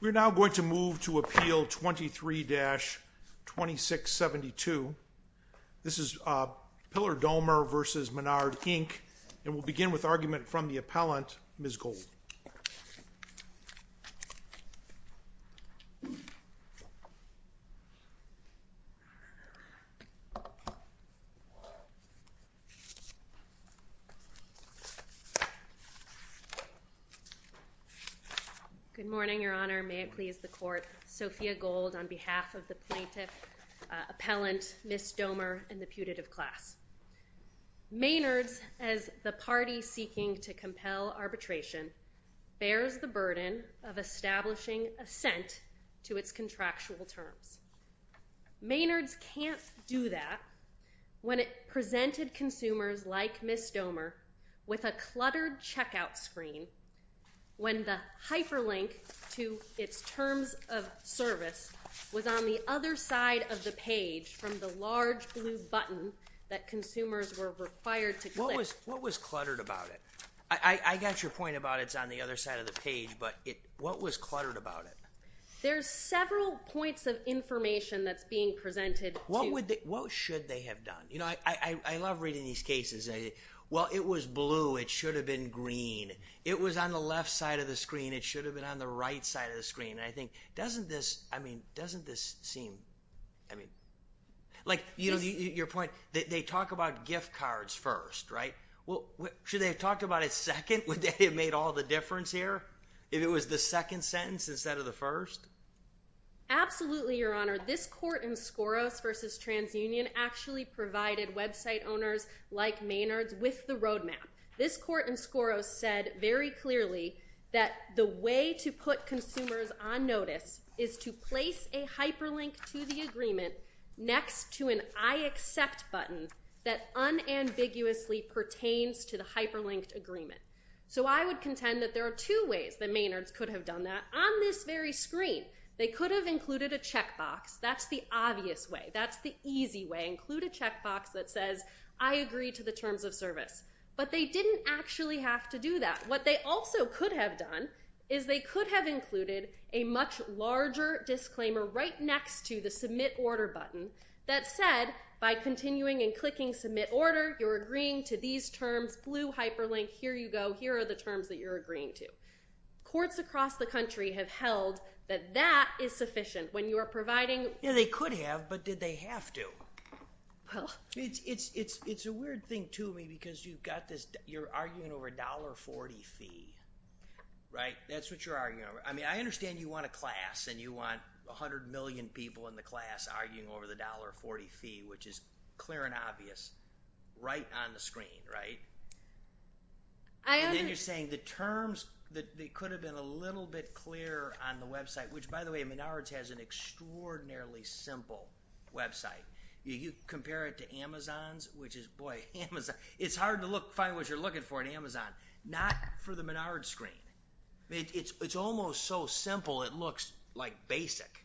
We are now going to move to Appeal 23-2672. This is Pilar Domer v. Menard, Inc. And we'll begin with argument from the appellant, Ms. Gold. Good morning, Your Honor, may it please the Court, Sophia Gold, on behalf of the plaintiff, appellant, Ms. Domer, and the putative class. Menard's, as the party seeking to compel arbitration, bears the burden of establishing assent to its contractual terms. Menard's can't do that when it presented consumers like Ms. Domer with a cluttered checkout screen when the hyperlink to its terms of service was on the other side of the page and the large blue button that consumers were required to click. What was cluttered about it? I got your point about it's on the other side of the page, but what was cluttered about it? There's several points of information that's being presented. What should they have done? You know, I love reading these cases, well, it was blue, it should have been green. It was on the left side of the screen, it should have been on the right side of the screen. I think, doesn't this, I mean, doesn't this seem, I mean, like, you know, your point, they talk about gift cards first, right? Well, should they have talked about it second, would they have made all the difference here? If it was the second sentence instead of the first? Absolutely, Your Honor. This court in Skoros versus TransUnion actually provided website owners like Menard's with the roadmap. This court in Skoros said very clearly that the way to put consumers on notice is to place a hyperlink to the agreement next to an I accept button that unambiguously pertains to the hyperlinked agreement. So I would contend that there are two ways that Menard's could have done that on this very screen. They could have included a checkbox, that's the obvious way, that's the easy way, include a checkbox that says I agree to the terms of service. But they didn't actually have to do that. What they also could have done is they could have included a much larger disclaimer right next to the submit order button that said by continuing and clicking submit order, you're agreeing to these terms, blue hyperlink, here you go, here are the terms that you're agreeing to. Courts across the country have held that that is sufficient when you are providing- Yeah, they could have, but did they have to? Well- It's a weird thing to me because you've got this, you're arguing over a $1.40 fee, right? That's what you're arguing over. I mean, I understand you want a class and you want 100 million people in the class arguing over the $1.40 fee, which is clear and obvious, right on the screen, right? And then you're saying the terms, they could have been a little bit clearer on the website, which by the way, Menards has an extraordinarily simple website. You compare it to Amazon's, which is, boy, Amazon, it's hard to find what you're looking for in Amazon, not for the Menards screen. It's almost so simple it looks like basic.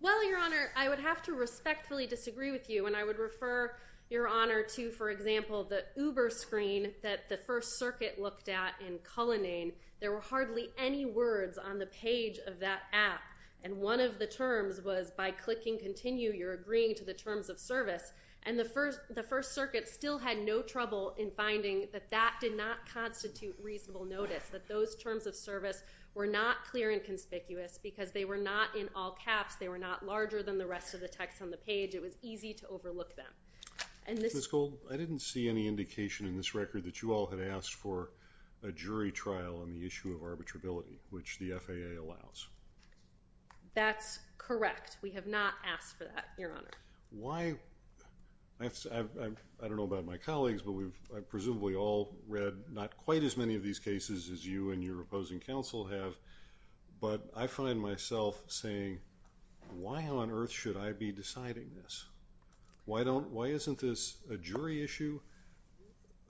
Well, Your Honor, I would have to respectfully disagree with you and I would refer, Your Honor, to, for example, the Uber screen that the First Circuit looked at in Cullinane. There were hardly any words on the page of that app. And one of the terms was, by clicking continue, you're agreeing to the terms of service. And the First Circuit still had no trouble in finding that that did not constitute reasonable notice, that those terms of service were not clear and conspicuous because they were not in all caps, they were not larger than the rest of the text on the page, it was easy to overlook them. And this- Ms. Gould, I didn't see any indication in this record that you all had asked for a jury trial on the issue of arbitrability, which the FAA allows. That's correct. We have not asked for that, Your Honor. Why- I don't know about my colleagues, but we've presumably all read not quite as many of these cases as you and your opposing counsel have, but I find myself saying, why on earth should I be deciding this? Why don't- why isn't this a jury issue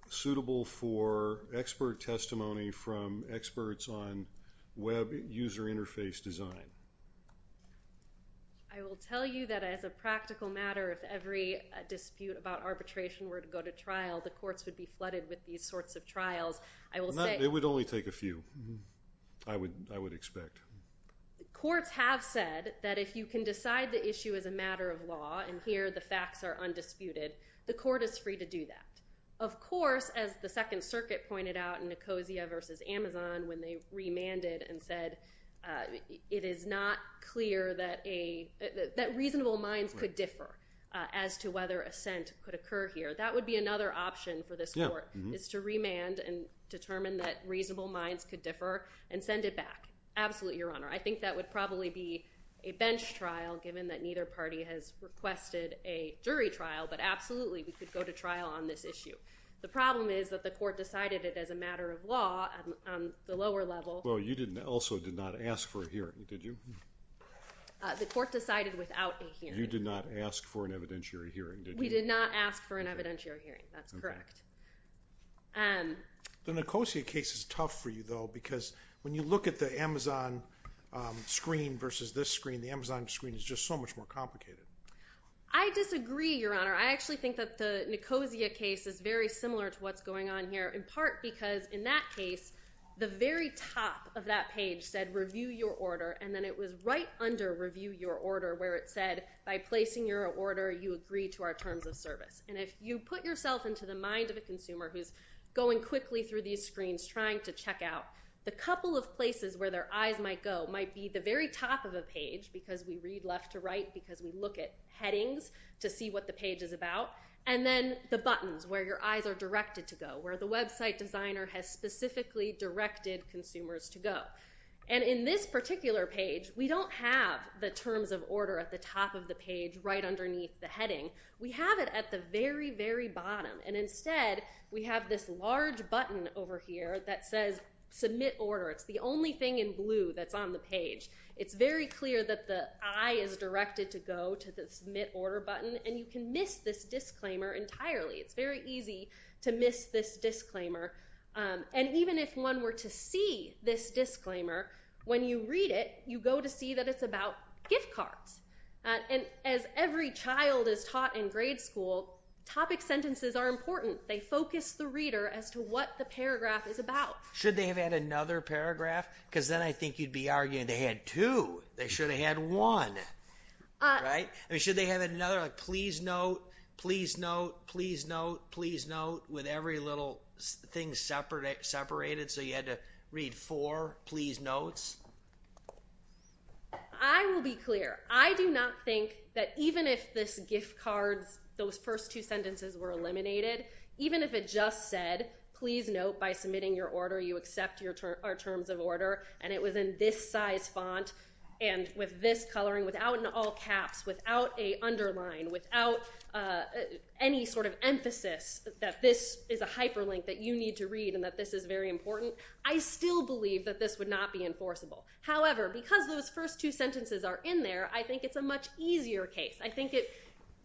suitable for expert testimony from experts on web user interface design? I will tell you that as a practical matter, if every dispute about arbitration were to go to trial, the courts would be flooded with these sorts of trials. I will say- It would only take a few, I would expect. Courts have said that if you can decide the issue as a matter of law, and here the facts are undisputed, the court is free to do that. Of course, as the Second Circuit pointed out in Nicosia v. Amazon when they remanded and said it is not clear that a- that reasonable minds could differ as to whether assent could occur here. That would be another option for this court, is to remand and determine that reasonable minds could differ and send it back. Absolutely, Your Honor. I think that would probably be a bench trial given that neither party has requested a jury trial, but absolutely we could go to trial on this issue. The problem is that the court decided it as a matter of law on the lower level. Well, you didn't- also did not ask for a hearing, did you? The court decided without a hearing. You did not ask for an evidentiary hearing, did you? We did not ask for an evidentiary hearing, that's correct. The Nicosia case is tough for you, though, because when you look at the Amazon screen versus this screen, the Amazon screen is just so much more complicated. I disagree, Your Honor. I actually think that the Nicosia case is very similar to what's going on here, in part because in that case, the very top of that page said review your order, and then it was right under review your order where it said by placing your order, you agree to our terms of service. And if you put yourself into the mind of a consumer who's going quickly through these screens trying to check out, the couple of places where their eyes might go might be the very top of a page, because we read left to right, because we look at headings to see what the page is about, and then the buttons where your eyes are directed to go, where the website designer has specifically directed consumers to go. And in this particular page, we don't have the terms of order at the top of the page right underneath the heading. We have it at the very, very bottom. And instead, we have this large button over here that says submit order. It's the only thing in blue that's on the page. It's very clear that the eye is directed to go to the submit order button, and you can miss this disclaimer entirely. It's very easy to miss this disclaimer. And even if one were to see this disclaimer, when you read it, you go to see that it's about gift cards. And as every child is taught in grade school, topic sentences are important. They focus the reader as to what the paragraph is about. Should they have had another paragraph? Because then I think you'd be arguing they had two. They should have had one, right? Should they have another, please note, please note, please note, please note, with every little thing separated, so you had to read four please notes? I will be clear. I do not think that even if this gift cards, those first two sentences were eliminated, even if it just said, please note, by submitting your order, you accept our terms of order, and it was in this size font, and with this coloring, without an all caps, without a underline, without any sort of emphasis that this is a hyperlink that you need to read and that this is very important, I still believe that this would not be enforceable. However, because those first two sentences are in there, I think it's a much easier case. I think it...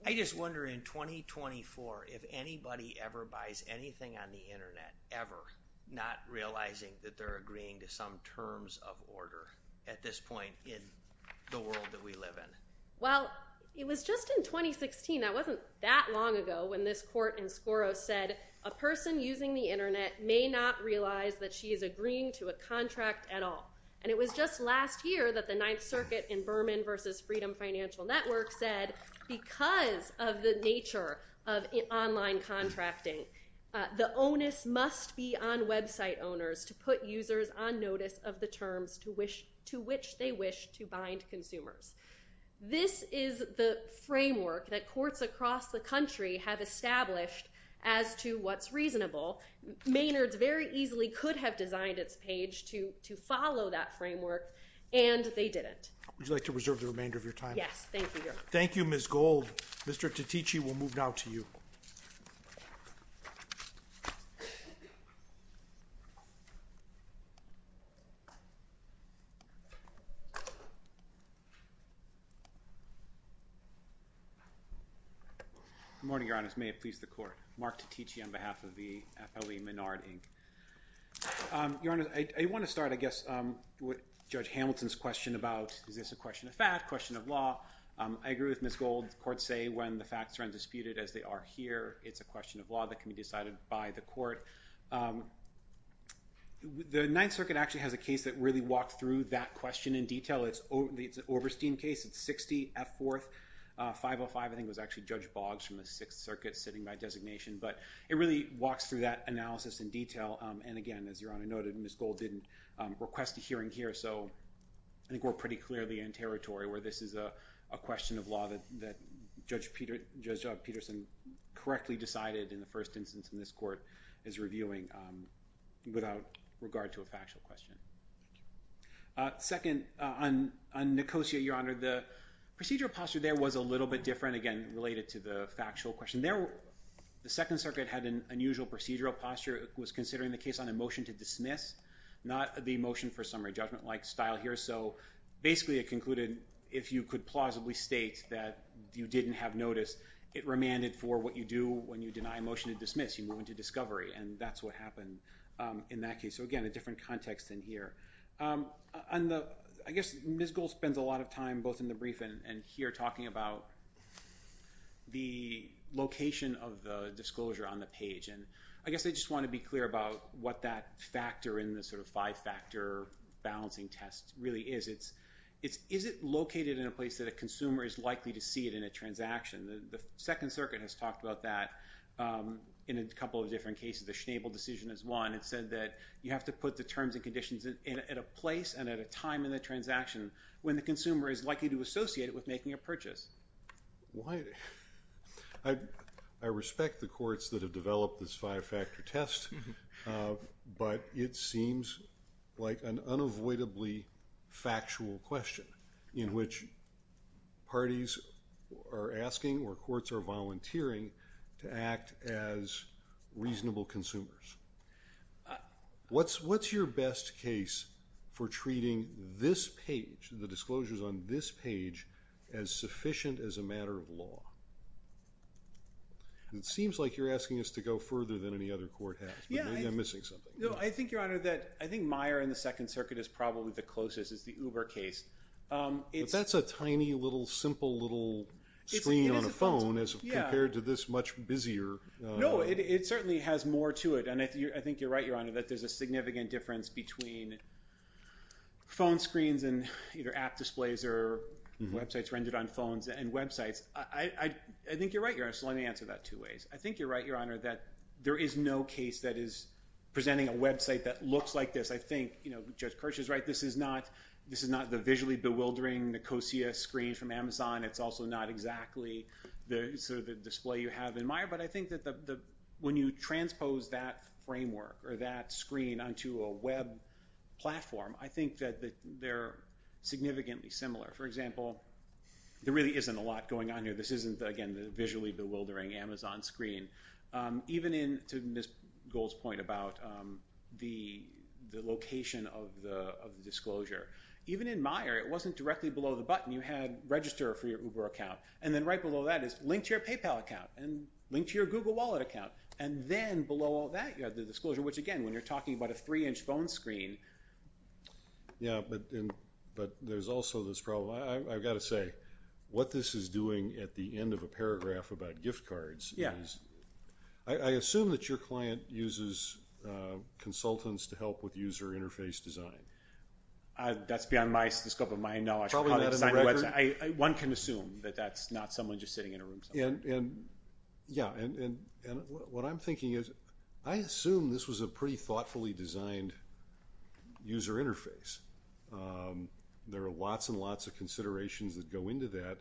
I just wonder, in 2024, if anybody ever buys anything on the internet, ever, not realizing that they're agreeing to some terms of order at this point in the world that we live in. Well, it was just in 2016, that wasn't that long ago, when this court in Skoros said, a person using the internet may not realize that she is agreeing to a contract at all. And it was just last year that the Ninth Circuit in Berman versus Freedom Financial Network said, because of the nature of online contracting, the onus must be on website owners to put users on notice of the terms to which they wish to bind consumers. This is the framework that courts across the country have established as to what's reasonable. Maynard's very easily could have designed its page to follow that framework, and they didn't. Would you like to reserve the remainder of your time? Yes, thank you, Your Honor. Thank you, Ms. Gold. Mr. Titici, we'll move now to you. May it please the court. Mark Titici on behalf of the FLE Maynard, Inc. Your Honor, I want to start, I guess, with Judge Hamilton's question about, is this a question of fact, question of law? I agree with Ms. Gold. Courts say when the facts are undisputed, as they are here, it's a question of law that can be decided by the court. The Ninth Circuit actually has a case that really walked through that question in detail. It's an Oberstein case. It's 60 F Fourth, 505, I think it was actually Judge Boggs from the Sixth Circuit sitting by designation, but it really walks through that analysis in detail. And again, as Your Honor noted, Ms. Gold didn't request a hearing here, so I think we're pretty clearly in territory where this is a question of law that Judge Peterson correctly decided in the first instance in this court is reviewing without regard to a factual question. Second, on Nicosia, Your Honor, the procedural posture there was a little bit different, again, related to the factual question. The Second Circuit had an unusual procedural posture. It was considering the case on a motion to dismiss, not the motion for summary judgment like style here. So basically, it concluded if you could plausibly state that you didn't have notice, it remanded for what you do when you deny a motion to dismiss. You move into discovery, and that's what happened in that case. So again, a different context in here. I guess Ms. Gold spends a lot of time both in the brief and here talking about the location of the disclosure on the page. And I guess I just want to be clear about what that factor in the sort of five-factor balancing test really is. Is it located in a place that a consumer is likely to see it in a transaction? The Second Circuit has talked about that in a couple of different cases. The Schnabel decision is one. It said that you have to put the terms and conditions at a place and at a time in the transaction when the consumer is likely to associate it with making a purchase. I respect the courts that have developed this five-factor test, but it seems like an unavoidably factual question in which parties are asking or courts are volunteering to act as reasonable consumers. What's your best case for treating this page, the disclosures on this page, as sufficient as a matter of law? It seems like you're asking us to go further than any other court has, but maybe I'm missing something. No, I think, Your Honor, that I think Meyer and the Second Circuit is probably the closest. It's the Uber case. But that's a tiny little simple little screen on a phone as compared to this much busier. No, it certainly has more to it, and I think you're right, Your Honor, that there's a significant difference between phone screens and either app displays or websites rendered on phones and websites. I think you're right, Your Honor, so let me answer that two ways. I think you're right, Your Honor, that there is no case that is presenting a website that looks like this. I think Judge Kirsch is right. This is not the visually bewildering Nicosia screen from Amazon. It's also not exactly the display you have in Meyer. But I think that when you transpose that framework or that screen onto a web platform, I think that they're significantly similar. For example, there really isn't a lot going on here. This isn't, again, the visually bewildering Amazon screen. Even in, to Ms. Gold's point about the location of the disclosure, even in Meyer, it wasn't directly below the button. You had register for your Uber account, and then right below that is link to your PayPal account, and link to your Google Wallet account. And then below all that, you have the disclosure, which, again, when you're talking about a three-inch phone screen... Yeah, but there's also this problem. I've got to say, what this is doing at the end of a paragraph about gift cards is... Yeah. I assume that your client uses consultants to help with user interface design. That's beyond the scope of my knowledge. Probably not in the record. One can assume that that's not someone just sitting in a room somewhere. Yeah. And what I'm thinking is, I assume this was a pretty thoughtfully designed user interface. There are lots and lots of considerations that go into that.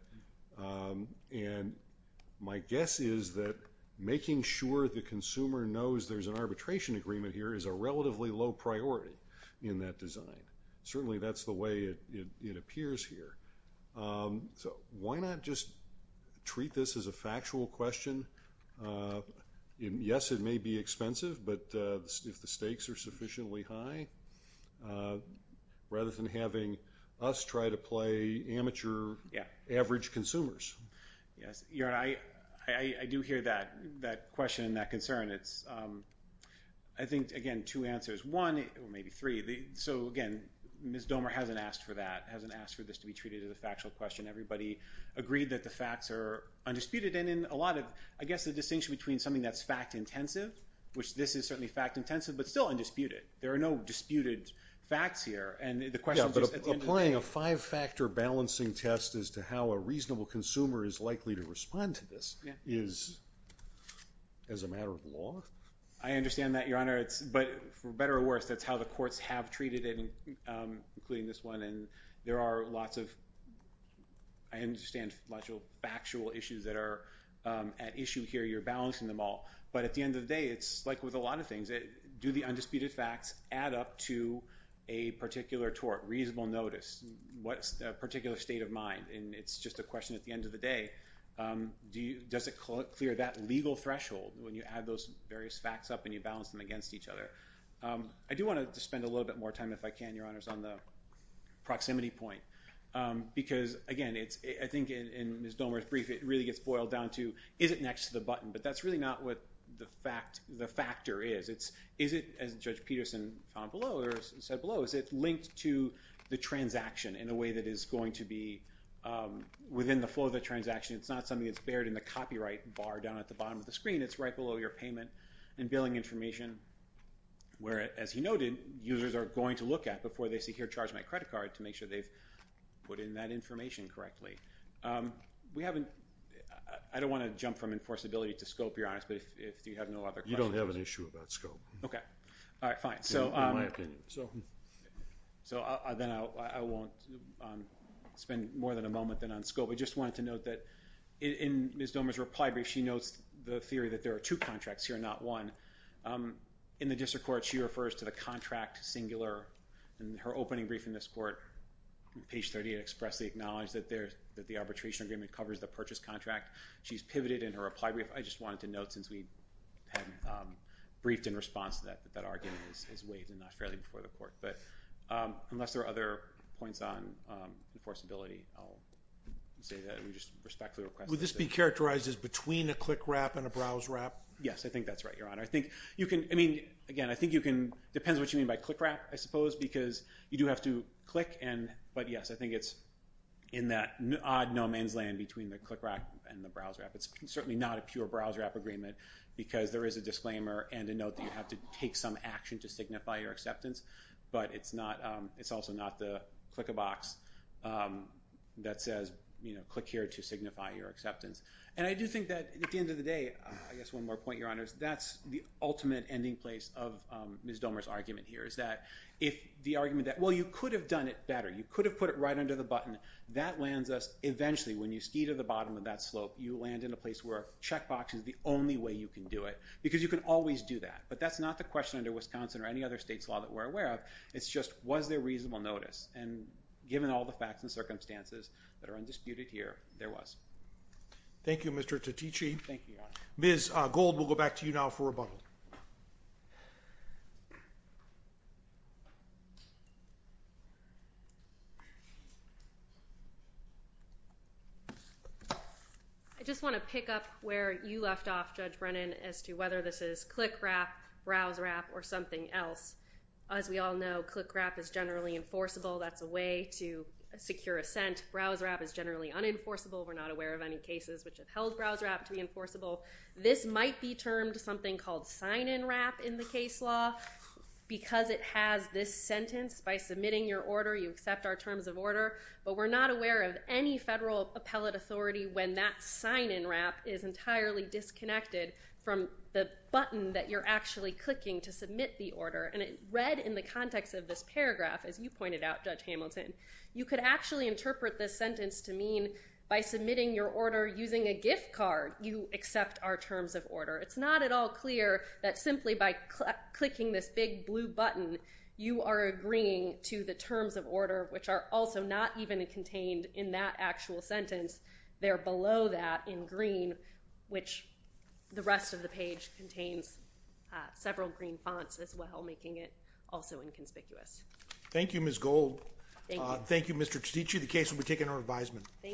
And my guess is that making sure the consumer knows there's an arbitration agreement here is a relatively low priority in that design. Certainly, that's the way it appears here. So why not just treat this as a factual question? Yes, it may be expensive, but if the stakes are sufficiently high, rather than having us try to play amateur, average consumers? Yes. I do hear that question, that concern. I think, again, two answers. One, or maybe three. So, again, Ms. Domer hasn't asked for that, hasn't asked for this to be treated as a factual question. Everybody agreed that the facts are undisputed. And in a lot of, I guess, the distinction between something that's fact-intensive, which this is certainly fact-intensive, but still undisputed. There are no disputed facts here. But applying a five-factor balancing test as to how a reasonable consumer is likely to respond to this is, as a matter of law? I understand that, Your Honor. But for better or worse, that's how the courts have treated it, including this one. And there are lots of, I understand, factual issues that are at issue here. You're balancing them all. But at the end of the day, it's like with a lot of things. Do the undisputed facts add up to a particular tort, reasonable notice? What's the particular state of mind? And it's just a question at the end of the day. Does it clear that legal threshold when you add those various facts up and you balance them against each other? I do want to spend a little bit more time, if I can, Your Honors, on the proximity point. Because, again, I think in Ms. Domer's brief, it really gets boiled down to, is it next to the button? But that's really not what the factor is. Is it, as Judge Peterson found below or said below, is it linked to the transaction in a way that is going to be within the flow of the transaction? It's not something that's buried in the copyright bar down at the bottom of the screen. It's right below your payment and billing information where, as he noted, users are going to look at before they say, here, charge my credit card, to make sure they've put in that information correctly. I don't want to jump from enforceability to scope, Your Honors, but if you have no other questions. You don't have an issue about scope. OK. All right. Fine. In my opinion. So then I won't spend more than a moment then on scope. I just wanted to note that in Ms. Domer's reply brief, she notes the theory that there are two contracts here, not one. In the district court, she refers to the contract singular. In her opening brief in this court, page 38 expressly acknowledged that the arbitration agreement covers the purchase contract. She's pivoted in her reply brief. I just wanted to note, since we haven't briefed in response to that, that that argument is waived and not fairly before the court. But unless there are other points on enforceability, I'll say that we just respectfully request that. Would this be characterized as between a CLCRAP and a BrowseRAP? Yes. I think that's right, Your Honor. I think you can, I mean, again, I think you can, depends what you mean by CLCRAP, I suppose, because you do have to click and, but yes, I think it's in that odd no man's land between the CLCRAP and the BrowseRAP. It's certainly not a pure BrowseRAP agreement because there is a disclaimer and a note that you have to take some action to signify your acceptance. But it's not, it's also not the click a box that says, you know, click here to signify your acceptance. And I do think that at the end of the day, I guess one more point, Your Honors, that's the ultimate ending place of Ms. Domer's argument here is that if the argument that, well, you could have done it better. You could have put it right under the button. That lands us, eventually, when you ski to the bottom of that slope, you land in a place where a checkbox is the only way you can do it because you can always do that. But that's not the question under Wisconsin or any other state's law that we're aware of. It's just, was there reasonable notice? And given all the facts and circumstances that are undisputed here, there was. Thank you, Mr. Titici. Thank you, Your Honor. Ms. Gold, we'll go back to you now for rebuttal. I just want to pick up where you left off, Judge Brennan, as to whether this is click wrap, browse wrap, or something else. As we all know, click wrap is generally enforceable. That's a way to secure assent. Browse wrap is generally unenforceable. We're not aware of any cases which have held browse wrap to be enforceable. This might be termed something called sign-in wrap in the case law because it has this sentence, by submitting your order, you accept our terms of order. But we're not aware of any federal appellate authority when that sign-in wrap is entirely disconnected from the button that you're actually clicking to submit the order. And read in the context of this paragraph, as you pointed out, Judge Hamilton, you could actually interpret this sentence to mean, by submitting your order using a gift card, you accept our terms of order. It's not at all clear that simply by clicking this big blue button, you are agreeing to the terms of order, which are also not even contained in that actual sentence. They're below that in green, which the rest of the page contains several green fonts as well, making it also inconspicuous. Thank you, Ms. Gold. Thank you. Thank you, Mr. Chichich. The case will be taken under advisement. Thank you.